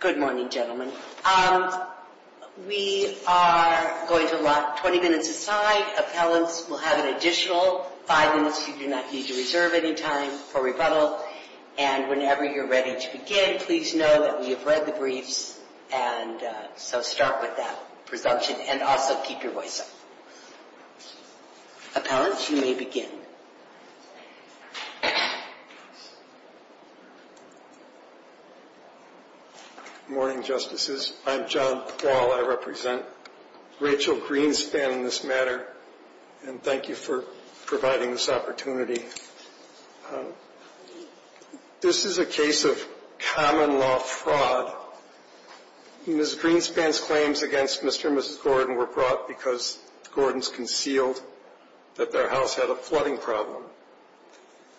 Good morning, gentlemen. We are going to lock 20 minutes aside. Appellants will have an additional five minutes you do not need to reserve any time for rebuttal. And whenever you're ready to begin, please know that we have read the briefs. And so start with that presumption and also keep your voice up. Appellants, you may begin. Good morning, Justices. I'm John Paul. I represent Rachel Greenspan in this matter. And thank you for providing this opportunity. This is a case of common law fraud. Ms. Greenspan's claims against Mr. and Mrs. Gordon were brought because the Gordons concealed that their house had a flooding problem.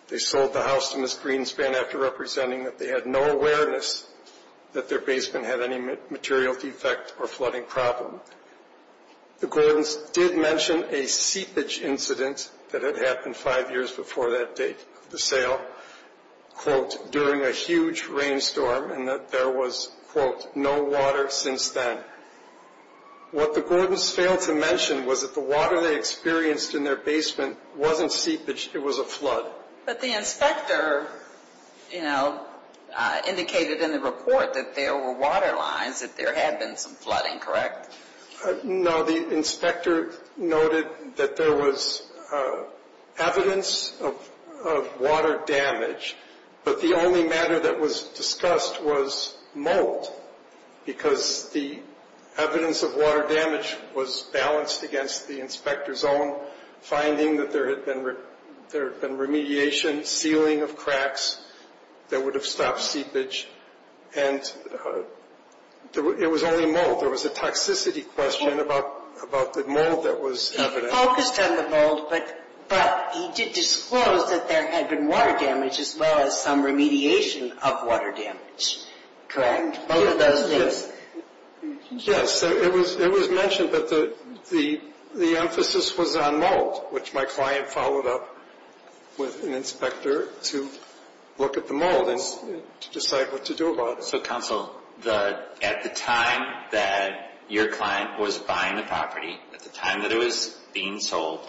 They sold the house to Ms. Greenspan after representing that they had no awareness that their basement had any material defect or flooding problem. The Gordons did mention a seepage incident that had happened five years before that date of the sale, quote, during a huge rainstorm and that there was, quote, no water since then. What the Gordons failed to mention was that the water they experienced in their basement wasn't seepage, it was a flood. But the inspector, you know, indicated in the report that there were water lines, that there had been some flooding, correct? No, the inspector noted that there was evidence of water damage, but the only matter that was discussed was molt because the evidence of water damage was balanced against the inspector's own finding that there had been remediation, sealing of cracks that would have stopped seepage. And it was only molt. There was a toxicity question about the molt that was evident. He focused on the molt, but he did disclose that there had been water damage as well as some remediation of water damage, correct? Both of those things. Yes, it was mentioned, but the emphasis was on molt, which my client followed up with an inspector to look at the molt and to decide what to do about it. Counsel, at the time that your client was buying the property, at the time that it was being sold,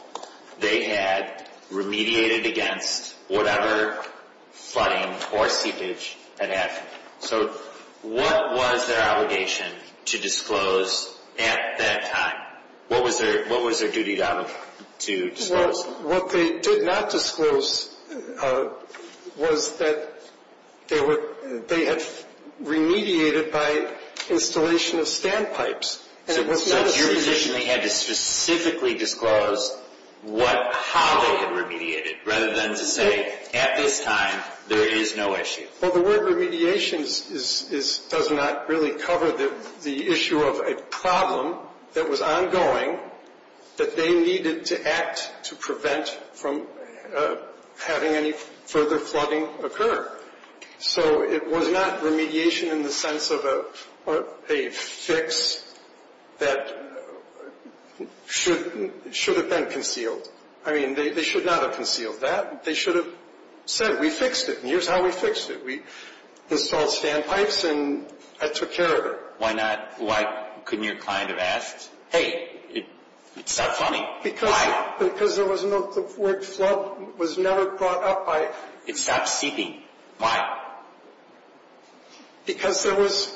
they had remediated against whatever flooding or seepage had happened. So what was their obligation to disclose at that time? What was their duty to disclose? What they did not disclose was that they had remediated by installation of standpipes. So it's not your position they had to specifically disclose how they had remediated, rather than to say, at this time, there is no issue? Well, the word remediation does not really cover the issue of a problem that was ongoing that they needed to act to prevent from having any further flooding occur. So it was not remediation in the sense of a fix that should have been concealed. I mean, they should not have concealed that. They should have said, we fixed it, and here's how we fixed it. We installed standpipes, and that took care of it. Why couldn't your client have asked, hey, it stopped flooding? Why? Because the word flood was never brought up by... It stopped seeping. Why? Because there was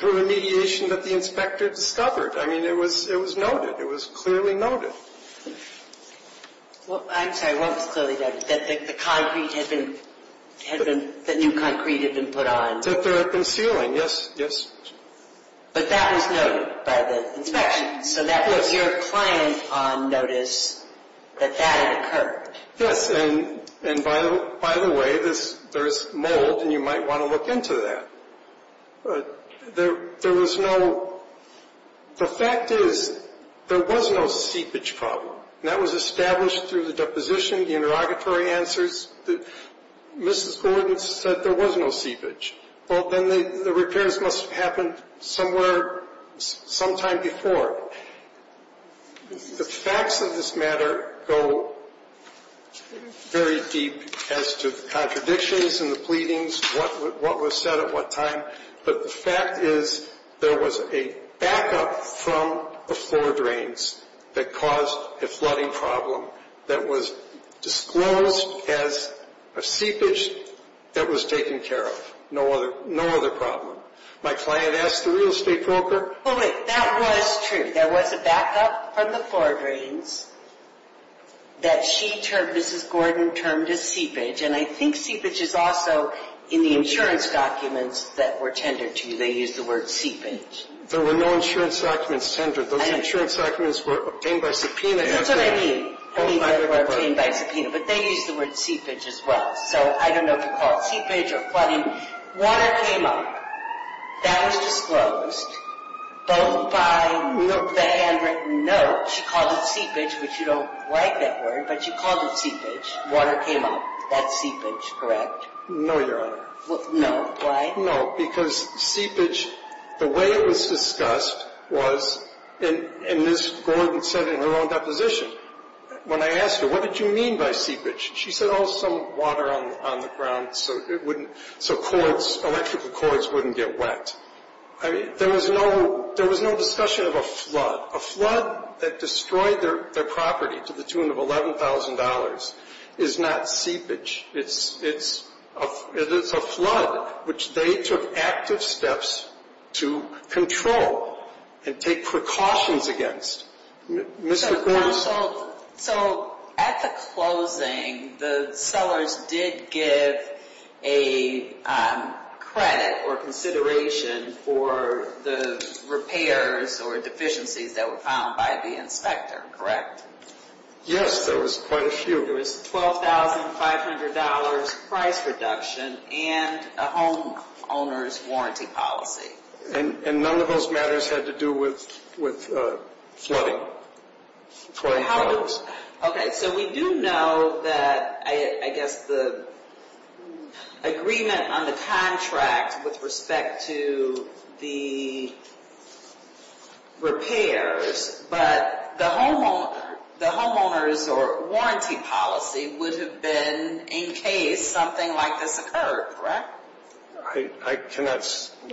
remediation that the inspector discovered. I mean, it was noted. It was clearly noted. I'm sorry, what was clearly noted? That the concrete had been, the new concrete had been put on? That there had been sealing. Yes, yes. But that was noted by the inspection. So that was your client on notice that that had occurred. Yes, and by the way, there's mold, and you might want to look into that. There was no, the fact is, there was no seepage problem. That was established through the deposition, the interrogatory answers. Mrs. Gordon said there was no seepage. Well, then the repairs must have happened somewhere, sometime before. The facts of this matter go very deep as to the contradictions and the pleadings, what was said at what time. But the fact is, there was a backup from the floor drains that caused a flooding problem that was disclosed as a seepage that was taken care of. No other problem. My client asked the real estate broker... Well, wait, that was true. There was a backup from the floor drains that she termed, Mrs. Gordon termed as seepage. And I think seepage is also in the insurance documents that were tendered to you. They used the word seepage. There were no insurance documents tendered. Those insurance documents were obtained by subpoena. That's what I mean. I mean the word obtained by subpoena. But they used the word seepage as well. So I don't know if you call it seepage or flooding. Water came up. That was disclosed, both by the handwritten note. She called it seepage, which you don't like that word, but she called it seepage. Water came up. That's seepage, correct? No, Your Honor. No, why? No, because seepage, the way it was discussed was, and Mrs. Gordon said it in her own deposition, when I asked her, what did you mean by seepage? She said, oh, some water on the ground so electrical cords wouldn't get wet. There was no discussion of a flood. A flood that destroyed their property to the tune of $11,000 is not seepage. It's a flood, which they took active steps to control and take precautions against. So at the closing, the sellers did give a credit or consideration for the repairs or deficiencies that were found by the inspector, correct? Yes, there was quite a few. There was $12,500 price reduction and a homeowner's warranty policy. And none of those matters had to do with flooding, $12,000. Okay, so we do know that, I guess, the agreement on the contract with respect to the repairs, but the homeowner's warranty policy would have been in case something like this occurred, correct? I cannot,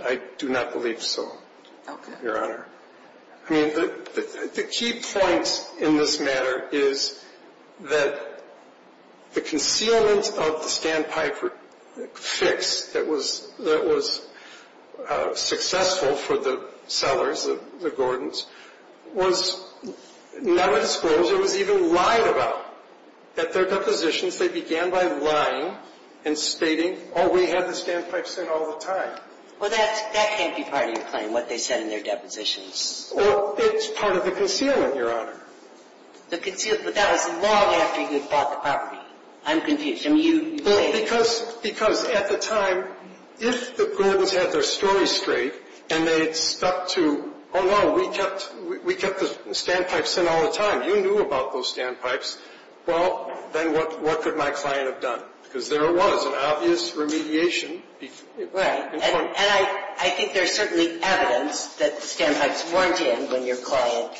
I do not believe so, Your Honor. I mean, the key point in this matter is that the concealment of the standpipe fix that was successful for the sellers, the Gordons, was never disclosed or was even lied about. At their depositions, they began by lying and stating, oh, we had the standpipes in all the time. Well, that can't be part of your claim, what they said in their depositions. Well, it's part of the concealment, Your Honor. The concealment, but that was long after you bought the property. I'm confused. I mean, you made it. Because at the time, if the Gordons had their story straight and they had stuck to, oh, no, we kept the standpipes in all the time, you knew about those standpipes, well, then what could my client have done? Because there was an obvious remediation. And I think there's certainly evidence that the standpipes weren't in when your client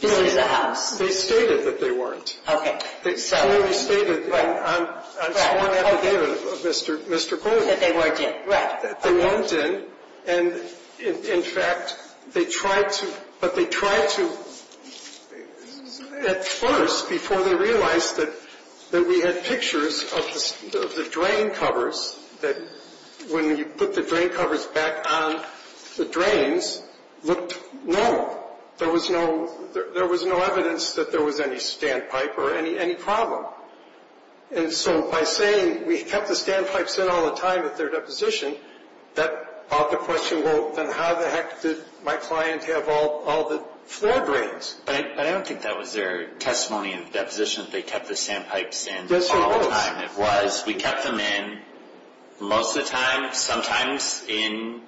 built the house. They stated that they weren't. Okay. They clearly stated on sworn affidavit of Mr. Gordon. That they weren't in. Right. That they weren't in. And, in fact, they tried to, but they tried to, at first, before they realized that we had pictures of the drain covers, that when you put the drain covers back on the drains, looked, no, there was no evidence that there was any standpipe or any problem. And so by saying, we kept the standpipes in all the time at their deposition, that brought the question, well, then how the heck did my client have all the floor drains? But I don't think that was their testimony in the deposition that they kept the standpipes in all the time. Yes, it was. It was. We kept them in most of the time. Sometimes in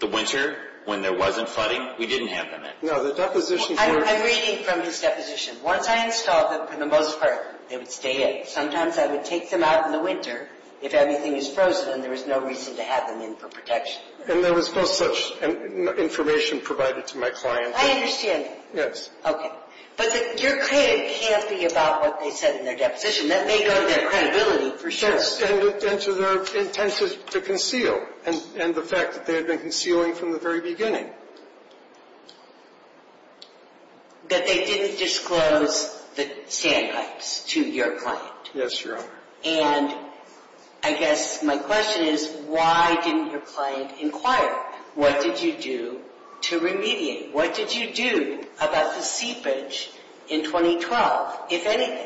the winter when there wasn't flooding, we didn't have them in. No, the deposition. I'm reading from this deposition. Once I installed them, for the most part, they would stay in. Sometimes I would take them out in the winter if anything was frozen and there was no reason to have them in for protection. And there was no such information provided to my client. I understand. Yes. Okay. But your claim can't be about what they said in their deposition. That may go to their credibility, for sure. Yes, and to their intent to conceal, and the fact that they had been concealing from the very beginning. That they didn't disclose the standpipes to your client. Yes, Your Honor. And I guess my question is, why didn't your client inquire? What did you do to remediate? What did you do about the seepage in 2012, if anything?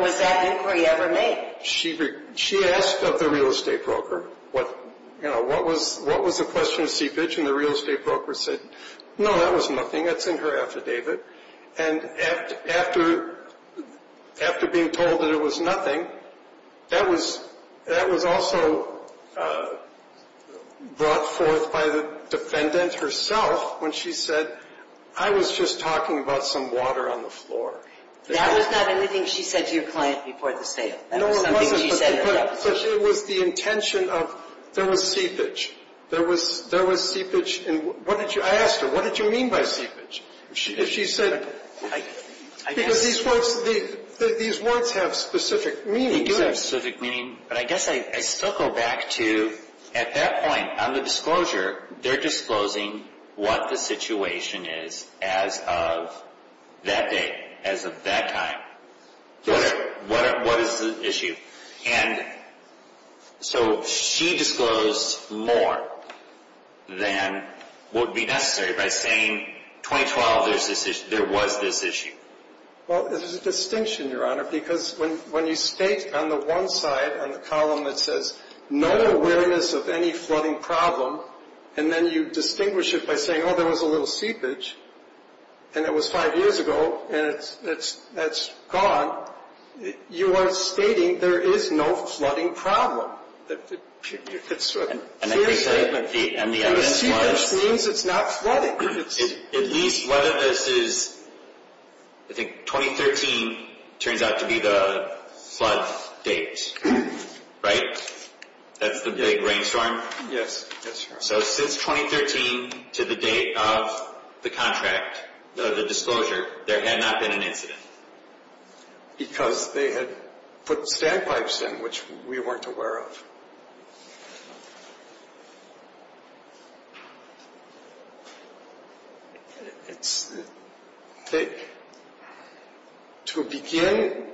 Was that inquiry ever made? She asked of the real estate broker, you know, what was the question of seepage? And the real estate broker said, no, that was nothing. That's in her affidavit. And after being told that it was nothing, that was also brought forth by the defendant herself when she said, I was just talking about some water on the floor. That was not anything she said to your client before the sale. No, it wasn't. That was something she said in her deposition. But it was the intention of there was seepage. There was seepage. I asked her, what did you mean by seepage? She said, because these words have specific meaning. They do have specific meaning. But I guess I still go back to, at that point, on the disclosure, they're disclosing what the situation is as of that day, as of that time. What is the issue? And so she disclosed more than would be necessary by saying, 2012, there was this issue. Well, there's a distinction, Your Honor, because when you state on the one side, on the column, that says, no awareness of any flooding problem, and then you distinguish it by saying, oh, there was a little seepage, and it was five years ago, and it's gone, you are stating there is no flooding problem. And the evidence was? And the seepage means it's not flooding. At least whether this is, I think 2013 turns out to be the flood date, right? That's the big rainstorm? Yes. So since 2013 to the date of the contract, the disclosure, there had not been an incident? Because they had put standpipes in, which we weren't aware of. To begin,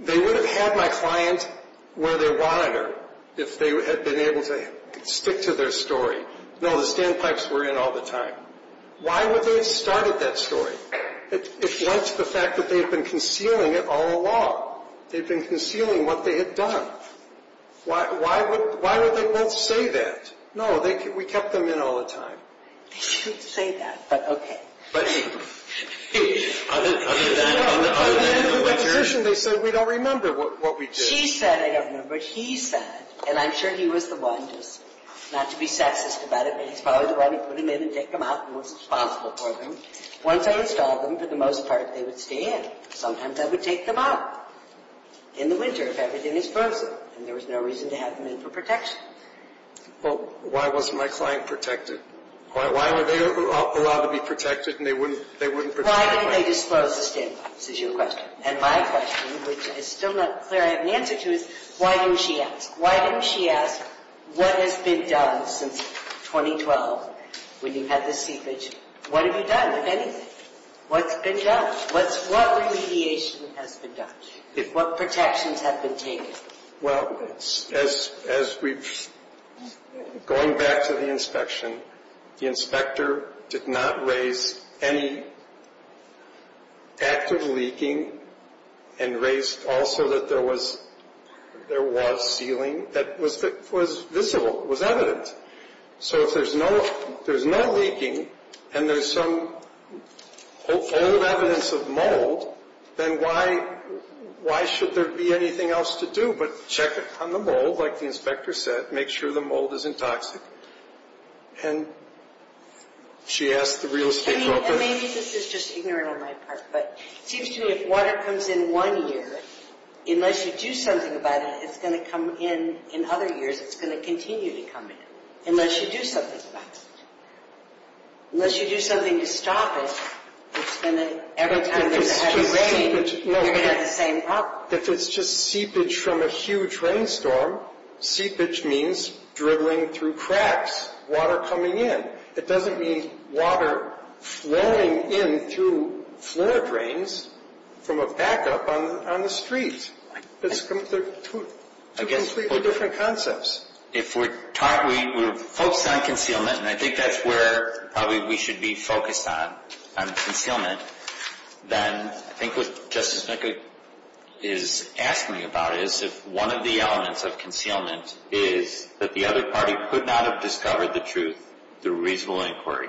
they would have had my client where they wanted her if they had been able to stick to their story. No, the standpipes were in all the time. Why would they have started that story if not to the fact that they had been concealing it all along? They had been concealing what they had done. Why would they both say that? No, we kept them in all the time. They didn't say that, but okay. But on the other hand, what your? On the other hand, they said, we don't remember what we did. She said, I don't remember, but he said, and I'm sure he was the one, just not to be sexist about it, but he's probably the one who put them in and took them out and was responsible for them. Once I installed them, for the most part, they would stay in. Sometimes I would take them out in the winter if everything is frozen, and there was no reason to have them in for protection. Well, why wasn't my client protected? Why were they allowed to be protected and they wouldn't? Why did they disclose the standpipes is your question. And my question, which is still not clear I have an answer to, is why didn't she ask? Why didn't she ask what has been done since 2012 when you had the seepage? What have you done with anything? What's been done? What remediation has been done? What protections have been taken? Well, as we've, going back to the inspection, the inspector did not raise any active leaking and raised also that there was sealing that was visible, was evident. So if there's no leaking and there's some old evidence of mold, then why should there be anything else to do but check it on the mold, like the inspector said, make sure the mold isn't toxic. And she asked the real estate broker. And maybe this is just ignorant on my part, but it seems to me if water comes in one year, unless you do something about it, it's going to come in other years, it's going to continue to come in, unless you do something about it. Unless you do something to stop it, it's going to, every time there's a heavy rain, you're going to have the same problem. If it's just seepage from a huge rainstorm, seepage means dribbling through cracks, water coming in. It doesn't mean water flowing in through floor drains from a backup on the street. It's two completely different concepts. If we're focused on concealment, and I think that's where probably we should be focused on, on concealment, then I think what Justice McCullough is asking about is if one of the elements of concealment is that the other party could not have discovered the truth, through reasonable inquiry.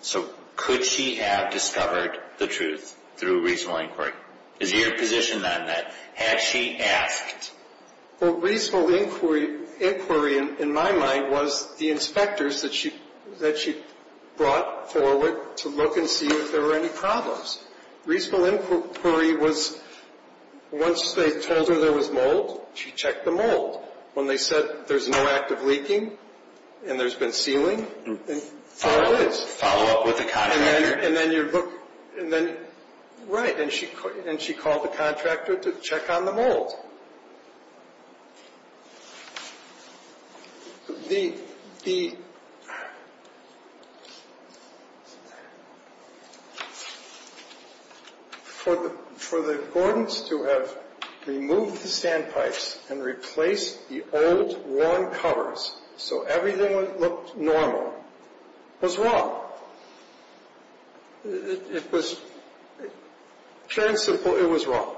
So could she have discovered the truth through reasonable inquiry? Is your position on that? Had she asked? Well, reasonable inquiry in my mind was the inspectors that she brought forward to look and see if there were any problems. Reasonable inquiry was once they told her there was mold, she checked the mold. When they said there's no active leaking and there's been sealing, there it is. Follow up with the contractor. Right, and she called the contractor to check on the mold. For the Gordons to have removed the sandpipes and replaced the old, worn covers so everything looked normal was wrong. It was fair and simple, it was wrong.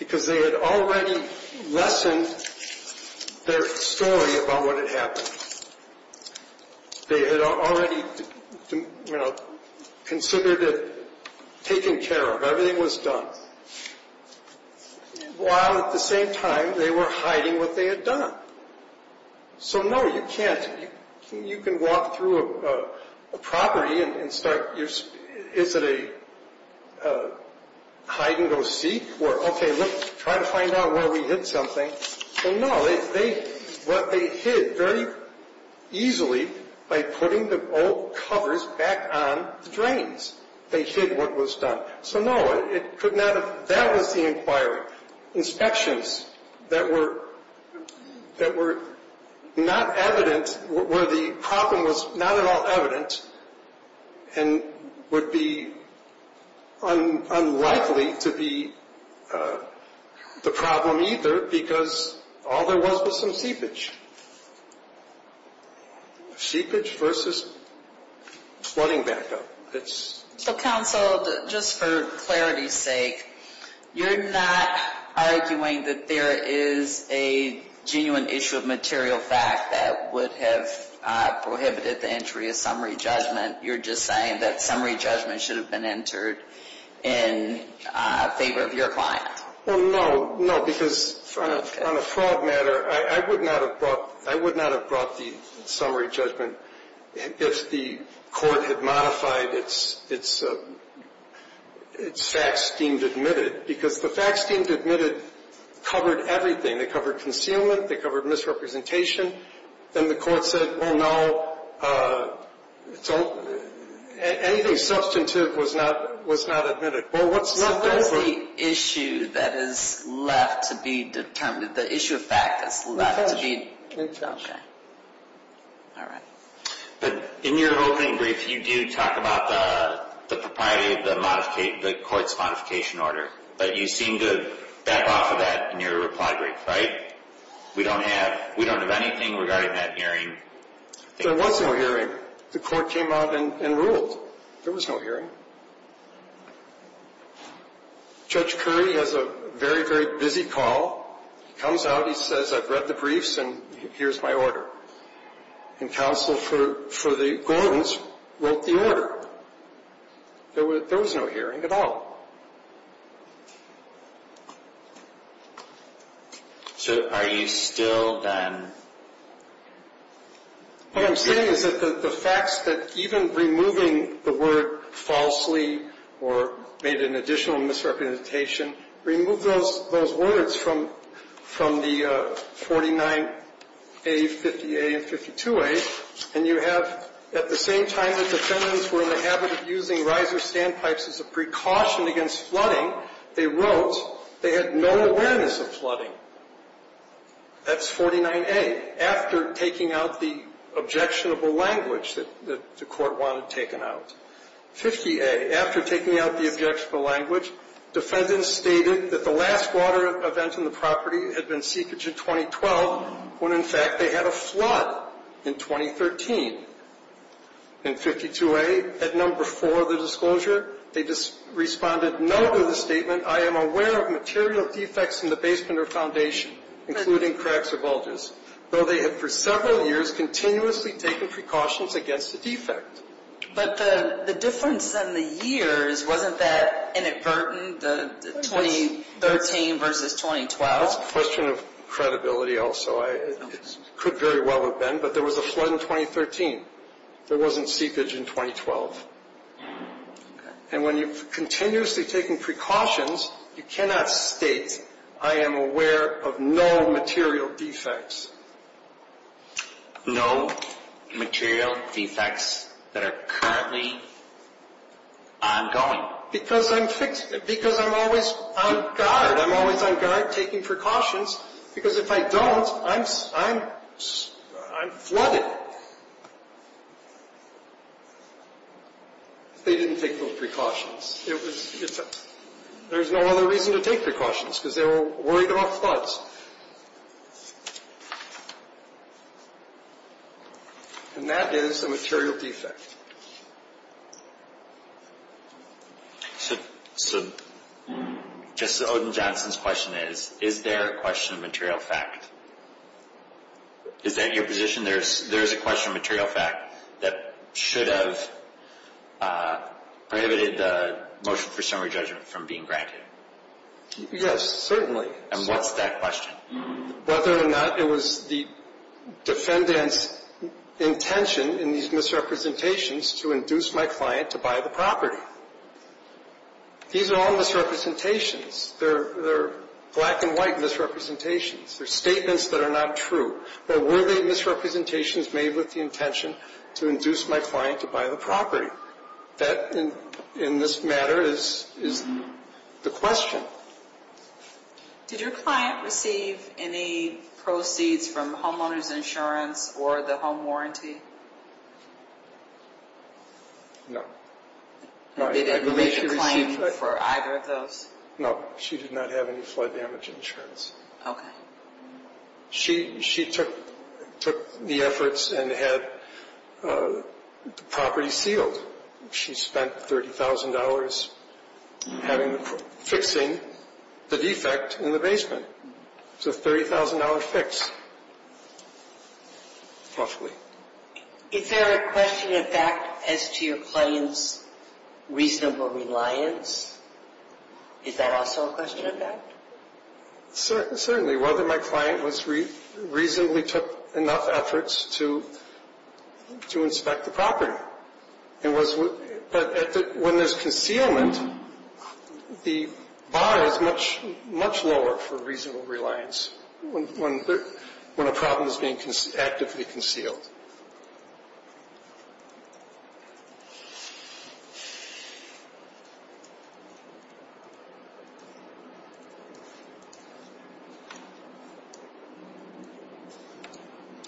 Because they had already lessened their story about what had happened. They had already considered it taken care of, everything was done. While at the same time they were hiding what they had done. So no, you can't, you can walk through a property and start, is it a hide and go seek? Or okay, let's try to find out where we hid something. So no, they hid very easily by putting the old covers back on the drains. They hid what was done. So no, it could not have, that was the inquiry. Inspections that were not evident, where the problem was not at all evident and would be unlikely to be the problem either because all there was was some seepage. Seepage versus flooding back up. So counsel, just for clarity's sake, you're not arguing that there is a genuine issue of material fact that would have prohibited the entry of summary judgment. You're just saying that summary judgment should have been entered in favor of your client. No, because on a fraud matter, I would not have brought the summary judgment if the court had modified its facts deemed admitted. Because the facts deemed admitted covered everything. They covered concealment. They covered misrepresentation. Then the court said, well, no, anything substantive was not admitted. So what is the issue that is left to be determined? The issue of fact is left to be determined. But in your opening brief, you do talk about the propriety of the court's modification order. But you seem to back off of that in your reply brief, right? We don't have anything regarding that hearing. There was no hearing. The court came out and ruled. There was no hearing. Judge Curry has a very, very busy call. He comes out. He says, I've read the briefs, and here's my order. And counsel for the Gordons wrote the order. There was no hearing at all. So are you still then? What I'm saying is that the facts that even removing the word falsely or made an additional misrepresentation, remove those words from the 49A, 50A, and 52A, and you have at the same time that defendants were in the habit of using riser standpipes as a precaution against flooding, they wrote they had no awareness of flooding. That's 49A, after taking out the objectionable language that the court wanted taken out. 50A, after taking out the objectionable language, defendants stated that the last water event in the property had been seepage in 2012, when in fact they had a flood in 2013. In 52A, at number four of the disclosure, they responded no to the statement, I am aware of material defects in the basement or foundation, including cracks or bulges, though they had for several years continuously taken precautions against the defect. But the difference in the years, wasn't that inadvertent, the 2013 versus 2012? It's a question of credibility also. It could very well have been, but there was a flood in 2013. There wasn't seepage in 2012. And when you're continuously taking precautions, you cannot state I am aware of no material defects. No material defects that are currently ongoing. Because I'm always on guard, I'm always on guard taking precautions, because if I don't, I'm flooded. They didn't take those precautions. There's no other reason to take precautions, because they were worried about floods. And that is a material defect. So, just as Odin Johnson's question is, is there a question of material fact? Is that your position? There is a question of material fact that should have prohibited the motion for summary judgment from being granted? Yes, certainly. And what's that question? Whether or not it was the defendant's intention in these misrepresentations to induce my client to buy the property. These are all misrepresentations. They're black and white misrepresentations. They're statements that are not true. But were they misrepresentations made with the intention to induce my client to buy the property? That, in this matter, is the question. Did your client receive any proceeds from homeowner's insurance or the home warranty? No. Did she receive for either of those? No, she did not have any flood damage insurance. Okay. She took the efforts and had the property sealed. She spent $30,000 fixing the defect in the basement. It's a $30,000 fix, roughly. Is there a question of fact as to your client's reasonable reliance? Is that also a question of fact? Certainly. Whether my client reasonably took enough efforts to inspect the property. But when there's concealment, the bar is much lower for reasonable reliance when a problem is being actively concealed.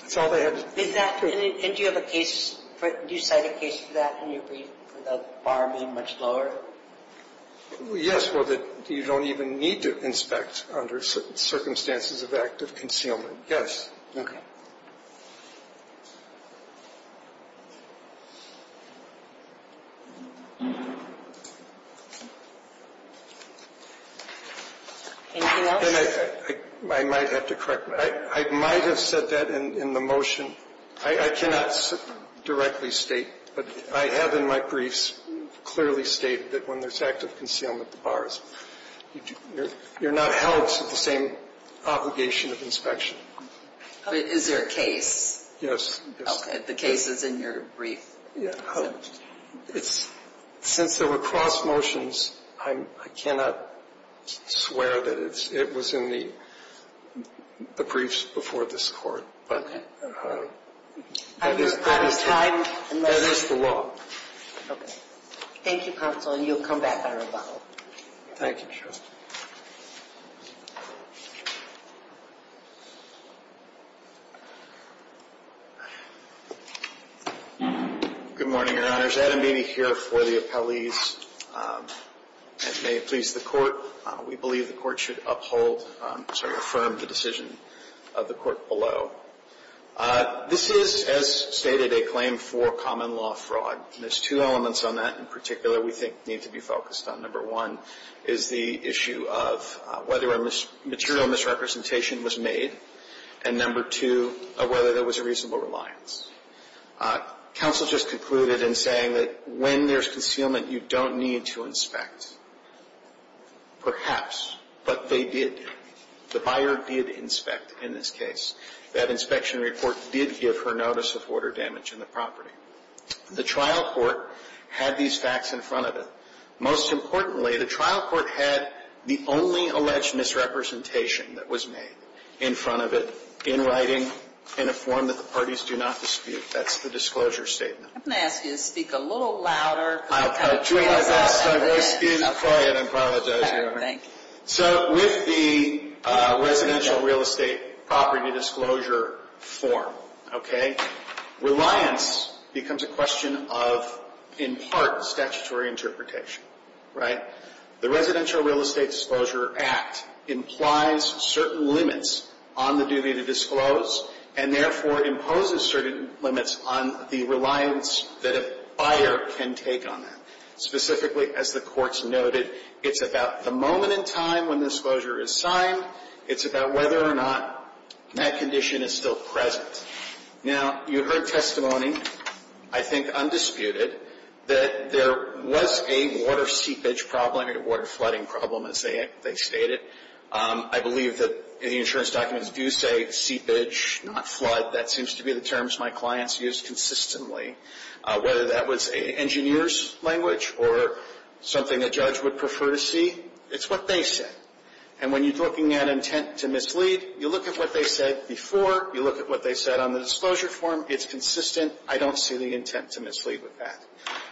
That's all I have to say. And do you have a case for it? Do you cite a case for that, where the bar would be much lower? Yes, where you don't even need to inspect under certain circumstances of active concealment. Yes. Okay. Anything else? I might have to correct. I might have said that in the motion. I cannot directly state, but I have in my briefs clearly stated that when there's active concealment, the bar is. You're not held to the same obligation of inspection. Is there a case? Okay. The case is in your brief. Since there were cross motions, I cannot swear that it was in the briefs before this Court. Okay. That is the law. Okay. Thank you, counsel, and you'll come back at a rebuttal. Thank you, Justice. Good morning, Your Honors. Adam Beeney here for the appellees. And may it please the Court, we believe the Court should uphold, sorry, affirm the decision of the Court below. This is, as stated, a claim for common law fraud. And there's two elements on that in particular we think need to be focused on. Number one is the issue of whether a material misrepresentation was made. And number two, whether there was a reasonable reliance. Counsel just concluded in saying that when there's concealment, you don't need to inspect. Perhaps, but they did. The buyer did inspect in this case. That inspection report did give her notice of order damage in the property. The trial court had these facts in front of it. Most importantly, the trial court had the only alleged misrepresentation that was made in front of it, in writing, in a form that the parties do not dispute. That's the disclosure statement. I'm going to ask you to speak a little louder. I apologize. My voice is quiet. I apologize. Okay. Thank you. So with the residential real estate property disclosure form, okay, reliance becomes a question of, in part, statutory interpretation. Right? The Residential Real Estate Disclosure Act implies certain limits on the duty to disclose and therefore imposes certain limits on the reliance that a buyer can take on that. Specifically, as the courts noted, it's about the moment in time when the disclosure is signed. It's about whether or not that condition is still present. Now, you heard testimony, I think undisputed, that there was a water seepage problem or a water flooding problem, as they stated. I believe that the insurance documents do say seepage, not flood. That seems to be the terms my clients use consistently. Whether that was an engineer's language or something a judge would prefer to see, it's what they said. And when you're looking at intent to mislead, you look at what they said before. You look at what they said on the disclosure form. It's consistent. I don't see the intent to mislead with that.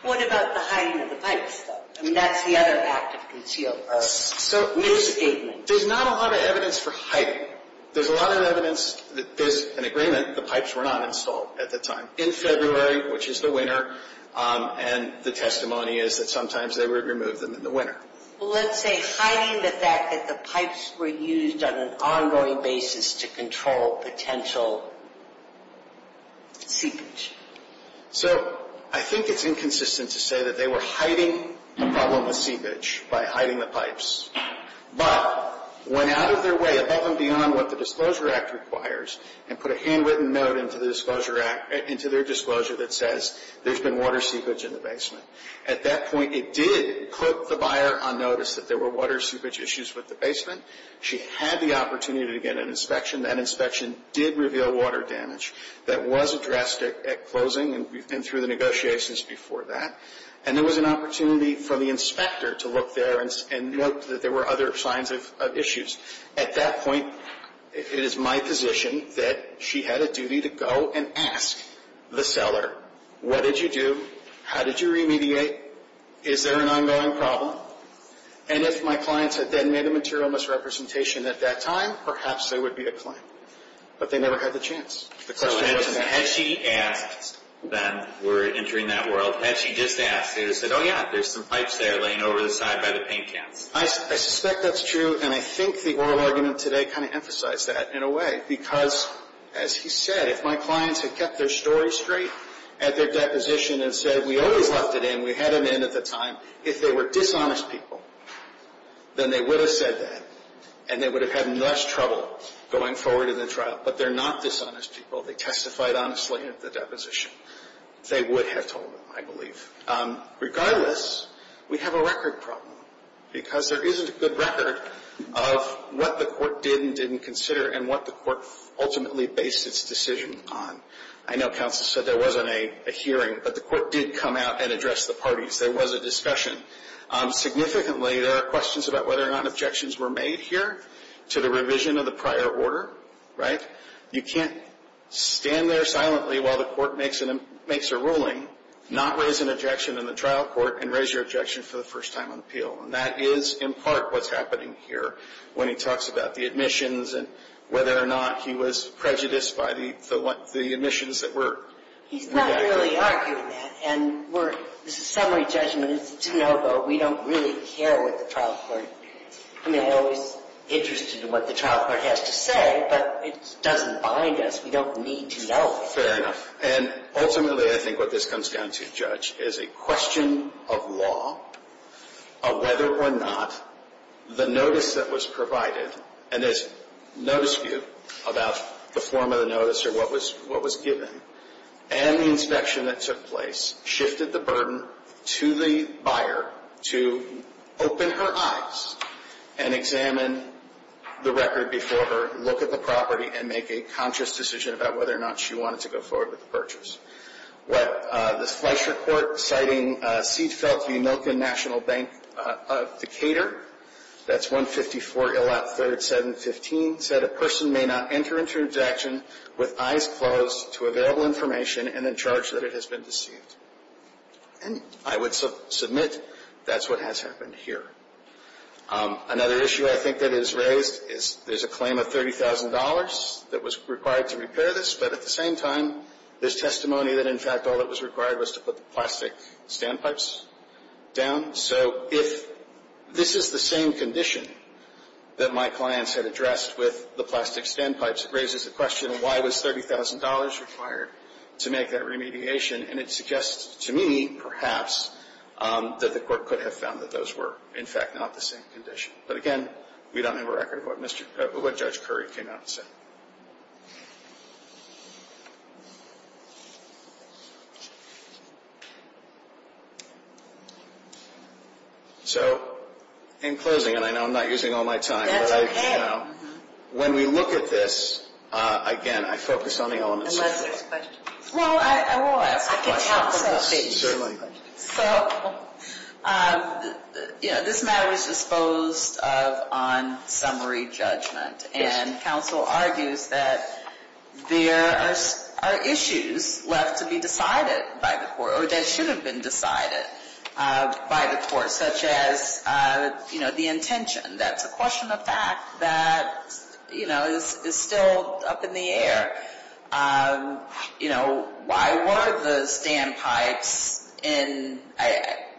What about the hiding of the pipes, though? I mean, that's the other act of concealment. So there's not a lot of evidence for hiding. There's a lot of evidence that there's an agreement the pipes were not installed at the time. In February, which is the winter, and the testimony is that sometimes they would remove them in the winter. Well, let's say hiding the fact that the pipes were used on an ongoing basis to control potential seepage. So I think it's inconsistent to say that they were hiding the problem with seepage by hiding the pipes. But went out of their way above and beyond what the Disclosure Act requires and put a handwritten note into their disclosure that says there's been water seepage in the basement. At that point, it did put the buyer on notice that there were water seepage issues with the basement. She had the opportunity to get an inspection. That inspection did reveal water damage. That was addressed at closing, and we've been through the negotiations before that. And there was an opportunity for the inspector to look there and note that there were other signs of issues. At that point, it is my position that she had a duty to go and ask the seller, what did you do? How did you remediate? Is there an ongoing problem? And if my clients had then made a material misrepresentation at that time, perhaps there would be a claim. But they never had the chance. The question wasn't that. So had she asked then, we're entering that world, had she just asked, they would have said, oh, yeah, there's some pipes there laying over the side by the paint cans. I suspect that's true, and I think the oral argument today kind of emphasized that in a way. Because, as he said, if my clients had kept their story straight at their deposition and said, we always left it in, we had it in at the time, if they were dishonest people, then they would have said that, and they would have had less trouble going forward in the trial. But they're not dishonest people. They testified honestly at the deposition. They would have told them, I believe. Regardless, we have a record problem because there isn't a good record of what the court did and didn't consider and what the court ultimately based its decision on. I know counsel said there wasn't a hearing, but the court did come out and address the parties. There was a discussion. Significantly, there are questions about whether or not objections were made here to the revision of the prior order, right? You can't stand there silently while the court makes a ruling, not raise an objection in the trial court, and raise your objection for the first time on appeal. And that is, in part, what's happening here when he talks about the admissions and whether or not he was prejudiced by the admissions that were made. He's not really arguing that. And this is summary judgment. It's to know that we don't really care what the trial court, I mean, I'm always interested in what the trial court has to say, but it doesn't bind us. We don't need to know. Fair enough. And ultimately, I think what this comes down to, Judge, is a question of law, of whether or not the notice that was provided, and there's no dispute about the form of the notice or what was given, and the inspection that took place shifted the burden to the buyer to open her eyes and examine the record before her, look at the property, and make a conscious decision about whether or not she wanted to go forward with the purchase. What the Fleischer Court, citing Seedfeld v. Milken National Bank of Decatur, that's 154 Ill. Out. 3rd. 715, said a person may not enter into an interjection with eyes closed to available information and in charge that it has been deceived. And I would submit that's what has happened here. Another issue I think that is raised is there's a claim of $30,000 that was required to repair this, but at the same time, there's testimony that, in fact, all that was required was to put the plastic standpipes down. So if this is the same condition that my clients had addressed with the plastic standpipes, it raises the question, why was $30,000 required to make that remediation? And it suggests to me, perhaps, that the Court could have found that those were, in fact, not the same condition. But again, we don't have a record of what Judge Curry came out and said. So, in closing, and I know I'm not using all my time. That's okay. When we look at this, again, I focus on the elements of the case. Unless there's questions. Well, I will ask a question. I can tackle this, certainly. So, you know, this matter was disposed of on summary judgment. Yes. And counsel argues that there are issues left to be decided by the Court, or that should have been decided by the Court, such as, you know, the intention. That's a question of fact that, you know, is still up in the air. You know, why were the standpipes in?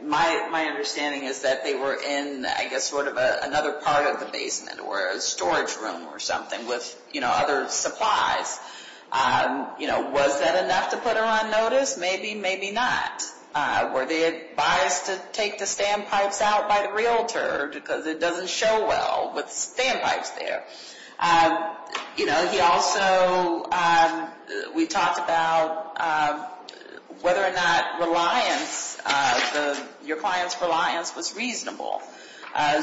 My understanding is that they were in, I guess, sort of another part of the basement or a storage room or something with, you know, other supplies. You know, was that enough to put her on notice? Maybe, maybe not. Were they advised to take the standpipes out by the realtor because it doesn't show well with standpipes there? You know, he also, we talked about whether or not reliance, your client's reliance was reasonable.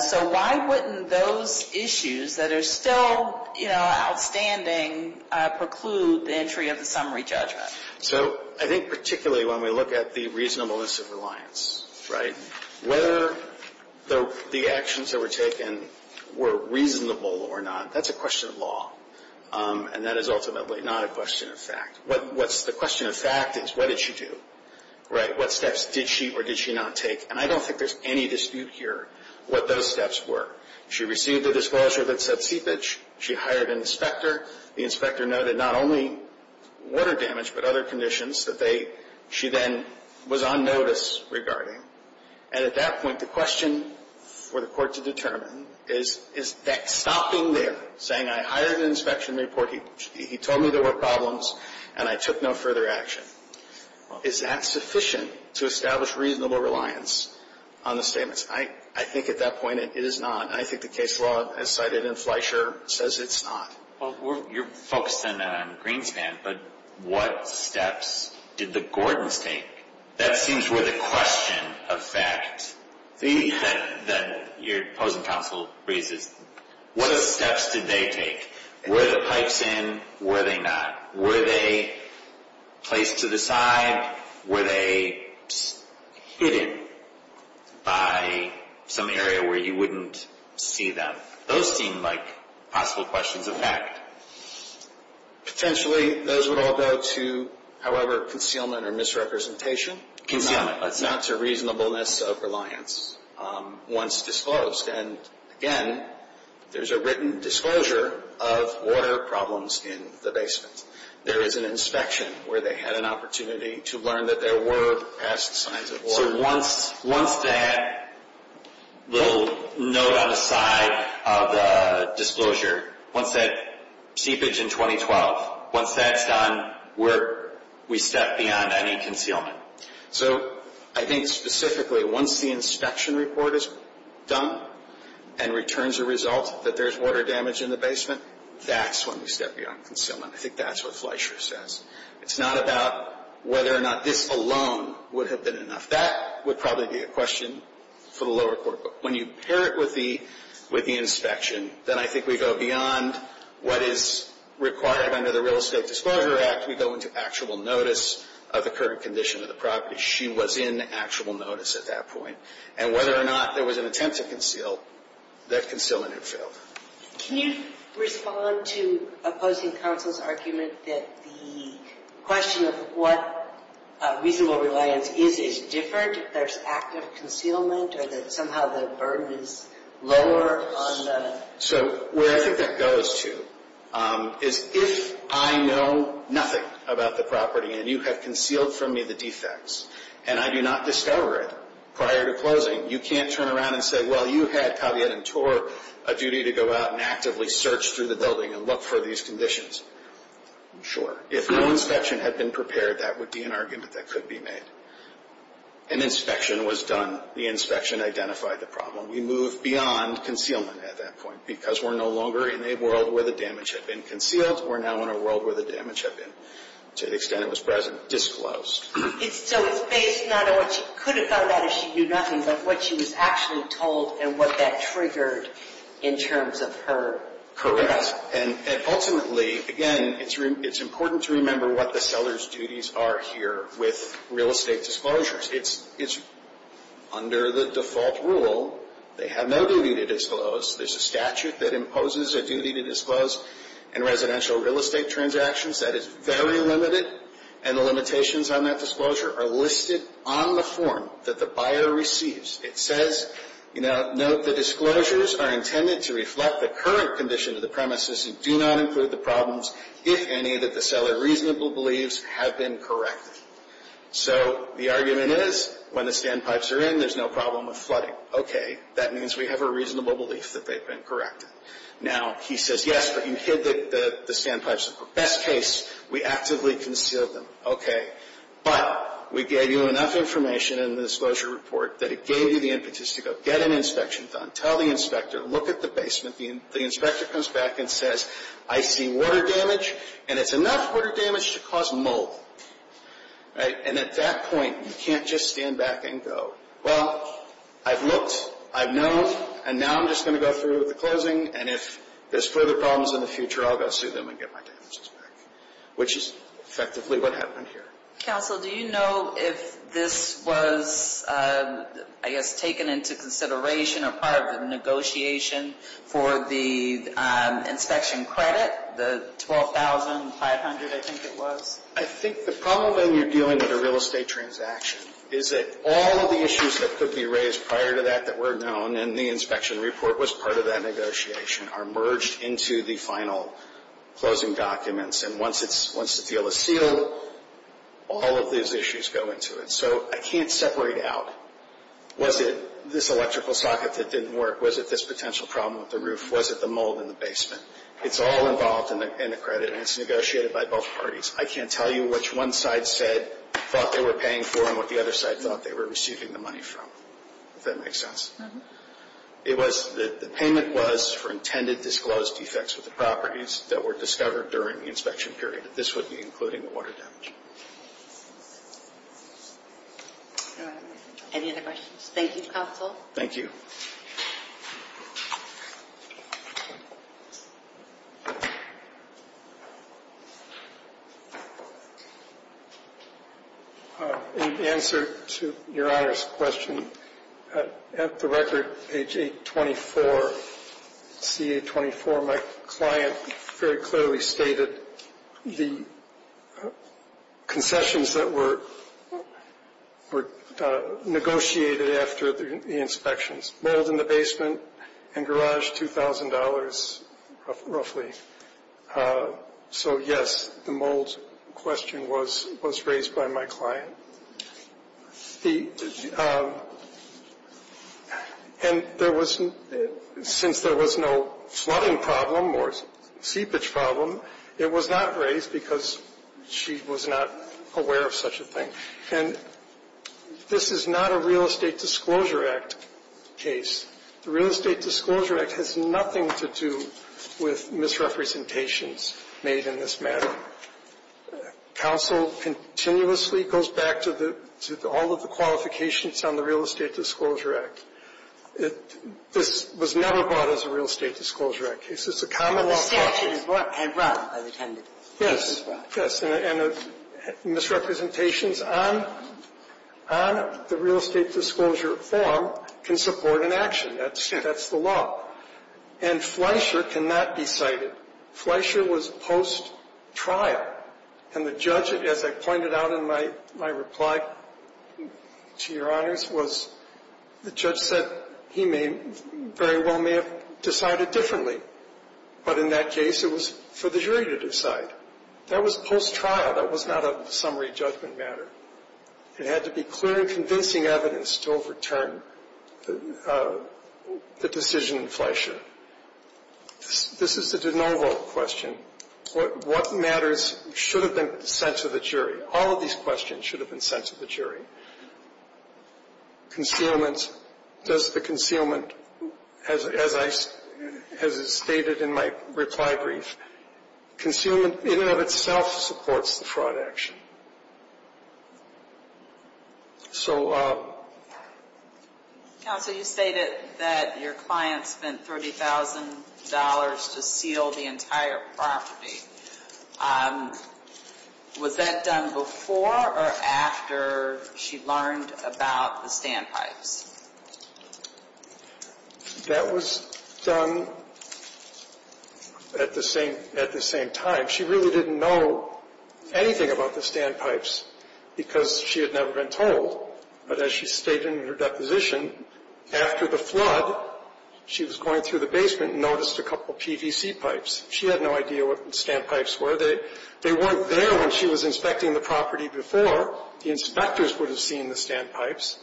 So why wouldn't those issues that are still, you know, outstanding preclude the entry of the summary judgment? So I think particularly when we look at the reasonableness of reliance, right, whether the actions that were taken were reasonable or not, that's a question of law. And that is ultimately not a question of fact. What's the question of fact is what did she do, right? What steps did she or did she not take? And I don't think there's any dispute here what those steps were. She received a disclosure that said seepage. She hired an inspector. The inspector noted not only water damage but other conditions that they, she then was on notice regarding. And at that point, the question for the court to determine is, is that stopping there, saying I hired an inspection report, he told me there were problems, and I took no further action. Is that sufficient to establish reasonable reliance on the statements? I think at that point it is not. And I think the case law as cited in Fleischer says it's not. Well, you're focused on Greenspan, but what steps did the Gordons take? That seems worth a question of fact that your opposing counsel raises. What steps did they take? Were the pipes in? Were they not? Were they placed to the side? Were they hidden by some area where you wouldn't see them? Those seem like possible questions of fact. Potentially those would all go to, however, concealment or misrepresentation. Concealment. Not to reasonableness of reliance once disclosed. And, again, there's a written disclosure of water problems in the basement. There is an inspection where they had an opportunity to learn that there were past signs of water. Also, once that little note on the side of the disclosure, once that seepage in 2012, once that's done, we step beyond any concealment. So I think specifically once the inspection report is done and returns a result that there's water damage in the basement, that's when we step beyond concealment. I think that's what Fleischer says. It's not about whether or not this alone would have been enough. That would probably be a question for the lower court. But when you pair it with the inspection, then I think we go beyond what is required under the Real Estate Disclosure Act. We go into actual notice of the current condition of the property. She was in actual notice at that point. And whether or not there was an attempt to conceal, that concealment had failed. Can you respond to opposing counsel's argument that the question of what reasonable reliance is, is different if there's active concealment or that somehow the burden is lower on the? So where I think that goes to is if I know nothing about the property and you have concealed from me the defects and I do not discover it prior to closing, you can't turn around and say, well, you had caveat and tour a duty to go out and actively search through the building and look for these conditions. Sure. If no inspection had been prepared, that would be an argument that could be made. An inspection was done. The inspection identified the problem. We moved beyond concealment at that point because we're no longer in a world where the damage had been concealed. We're now in a world where the damage had been, to the extent it was present, disclosed. So it's based not on what she could have found out if she knew nothing, but what she was actually told and what that triggered in terms of her career. And ultimately, again, it's important to remember what the seller's duties are here with real estate disclosures. It's under the default rule. They have no duty to disclose. There's a statute that imposes a duty to disclose in residential real estate transactions. That is very limited, and the limitations on that disclosure are listed on the form that the buyer receives. It says, note the disclosures are intended to reflect the current condition of the premises and do not include the problems, if any, that the seller reasonably believes have been corrected. So the argument is when the standpipes are in, there's no problem with flooding. Okay. That means we have a reasonable belief that they've been corrected. Now, he says, yes, but you hid the standpipes. Best case, we actively concealed them. Okay. But we gave you enough information in the disclosure report that it gave you the impetus to go get an inspection done, tell the inspector, look at the basement. The inspector comes back and says, I see water damage, and it's enough water damage to cause mold. And at that point, you can't just stand back and go, well, I've looked, I've known, and now I'm just going to go through with the closing, and if there's further problems in the future, I'll go sue them and get my damages back, which is effectively what happened here. Counsel, do you know if this was, I guess, taken into consideration or part of the negotiation for the inspection credit, the $12,500, I think it was? I think the problem when you're dealing with a real estate transaction is that all of the issues that could be raised prior to that that were known, and the inspection report was part of that negotiation, are merged into the final closing documents. And once the deal is sealed, all of these issues go into it. So I can't separate out, was it this electrical socket that didn't work, was it this potential problem with the roof, was it the mold in the basement? It's all involved in the credit, and it's negotiated by both parties. I can't tell you which one side thought they were paying for and what the other side thought they were receiving the money from, if that makes sense. The payment was for intended disclosed defects with the properties that were discovered during the inspection period. This would be including the water damage. Any other questions? Thank you, Counsel. Thank you. In answer to Your Honor's question, at the record, page 824, CA-24, my client very clearly stated the concessions that were negotiated after the inspections. Mold in the basement and garage, $2,000 roughly. So, yes, the mold question was raised by my client. And since there was no flooding problem or seepage problem, it was not raised because she was not aware of such a thing. And this is not a Real Estate Disclosure Act case. The Real Estate Disclosure Act has nothing to do with misrepresentations made in this matter. Counsel continuously goes back to the all of the qualifications on the Real Estate Disclosure Act. This was never brought as a Real Estate Disclosure Act case. It's a common law case. But the statute is what had run as intended. Yes. And misrepresentations on the Real Estate Disclosure form can support an action. That's the law. And Fleischer cannot be cited. Fleischer was post-trial. And the judge, as I pointed out in my reply to Your Honors, was the judge said he very well may have decided differently. But in that case, it was for the jury to decide. That was post-trial. That was not a summary judgment matter. It had to be clear and convincing evidence to overturn the decision in Fleischer. This is a de novo question. What matters should have been sent to the jury? All of these questions should have been sent to the jury. Concealment, does the concealment, as I stated in my reply brief, concealment in and of itself supports the fraud action. Counsel, you stated that your client spent $30,000 to seal the entire property. Was that done before or after she learned about the standpipes? That was done at the same time. She really didn't know anything about the standpipes because she had never been told. But as she stated in her deposition, after the flood, she was going through the basement and noticed a couple of PVC pipes. She had no idea what standpipes were. They weren't there when she was inspecting the property before. The inspectors would have seen the standpipes.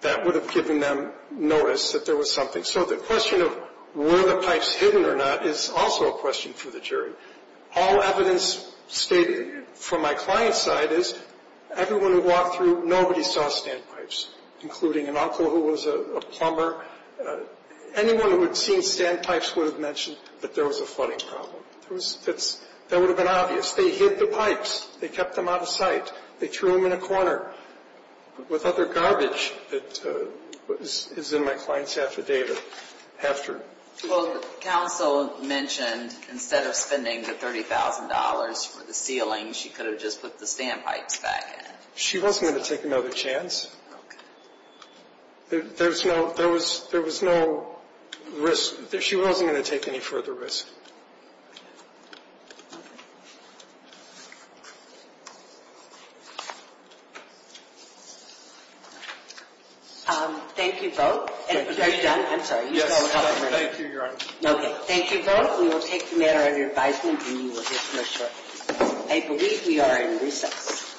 That would have given them notice that there was something. So the question of were the pipes hidden or not is also a question for the jury. All evidence stated from my client's side is everyone who walked through, nobody saw standpipes, including an uncle who was a plumber. Anyone who had seen standpipes would have mentioned that there was a flooding problem. That would have been obvious. They hid the pipes. They kept them out of sight. They threw them in a corner. What other garbage is in my client's affidavit after? Well, counsel mentioned instead of spending the $30,000 for the ceiling, she could have just put the standpipes back in. She wasn't going to take another chance. Okay. There was no risk. She wasn't going to take any further risk. Thank you both. Are you done? I'm sorry. Yes. Thank you, Your Honor. Okay. Thank you both. We will take the matter under advisement and you will hear from us shortly. I believe we are in recess.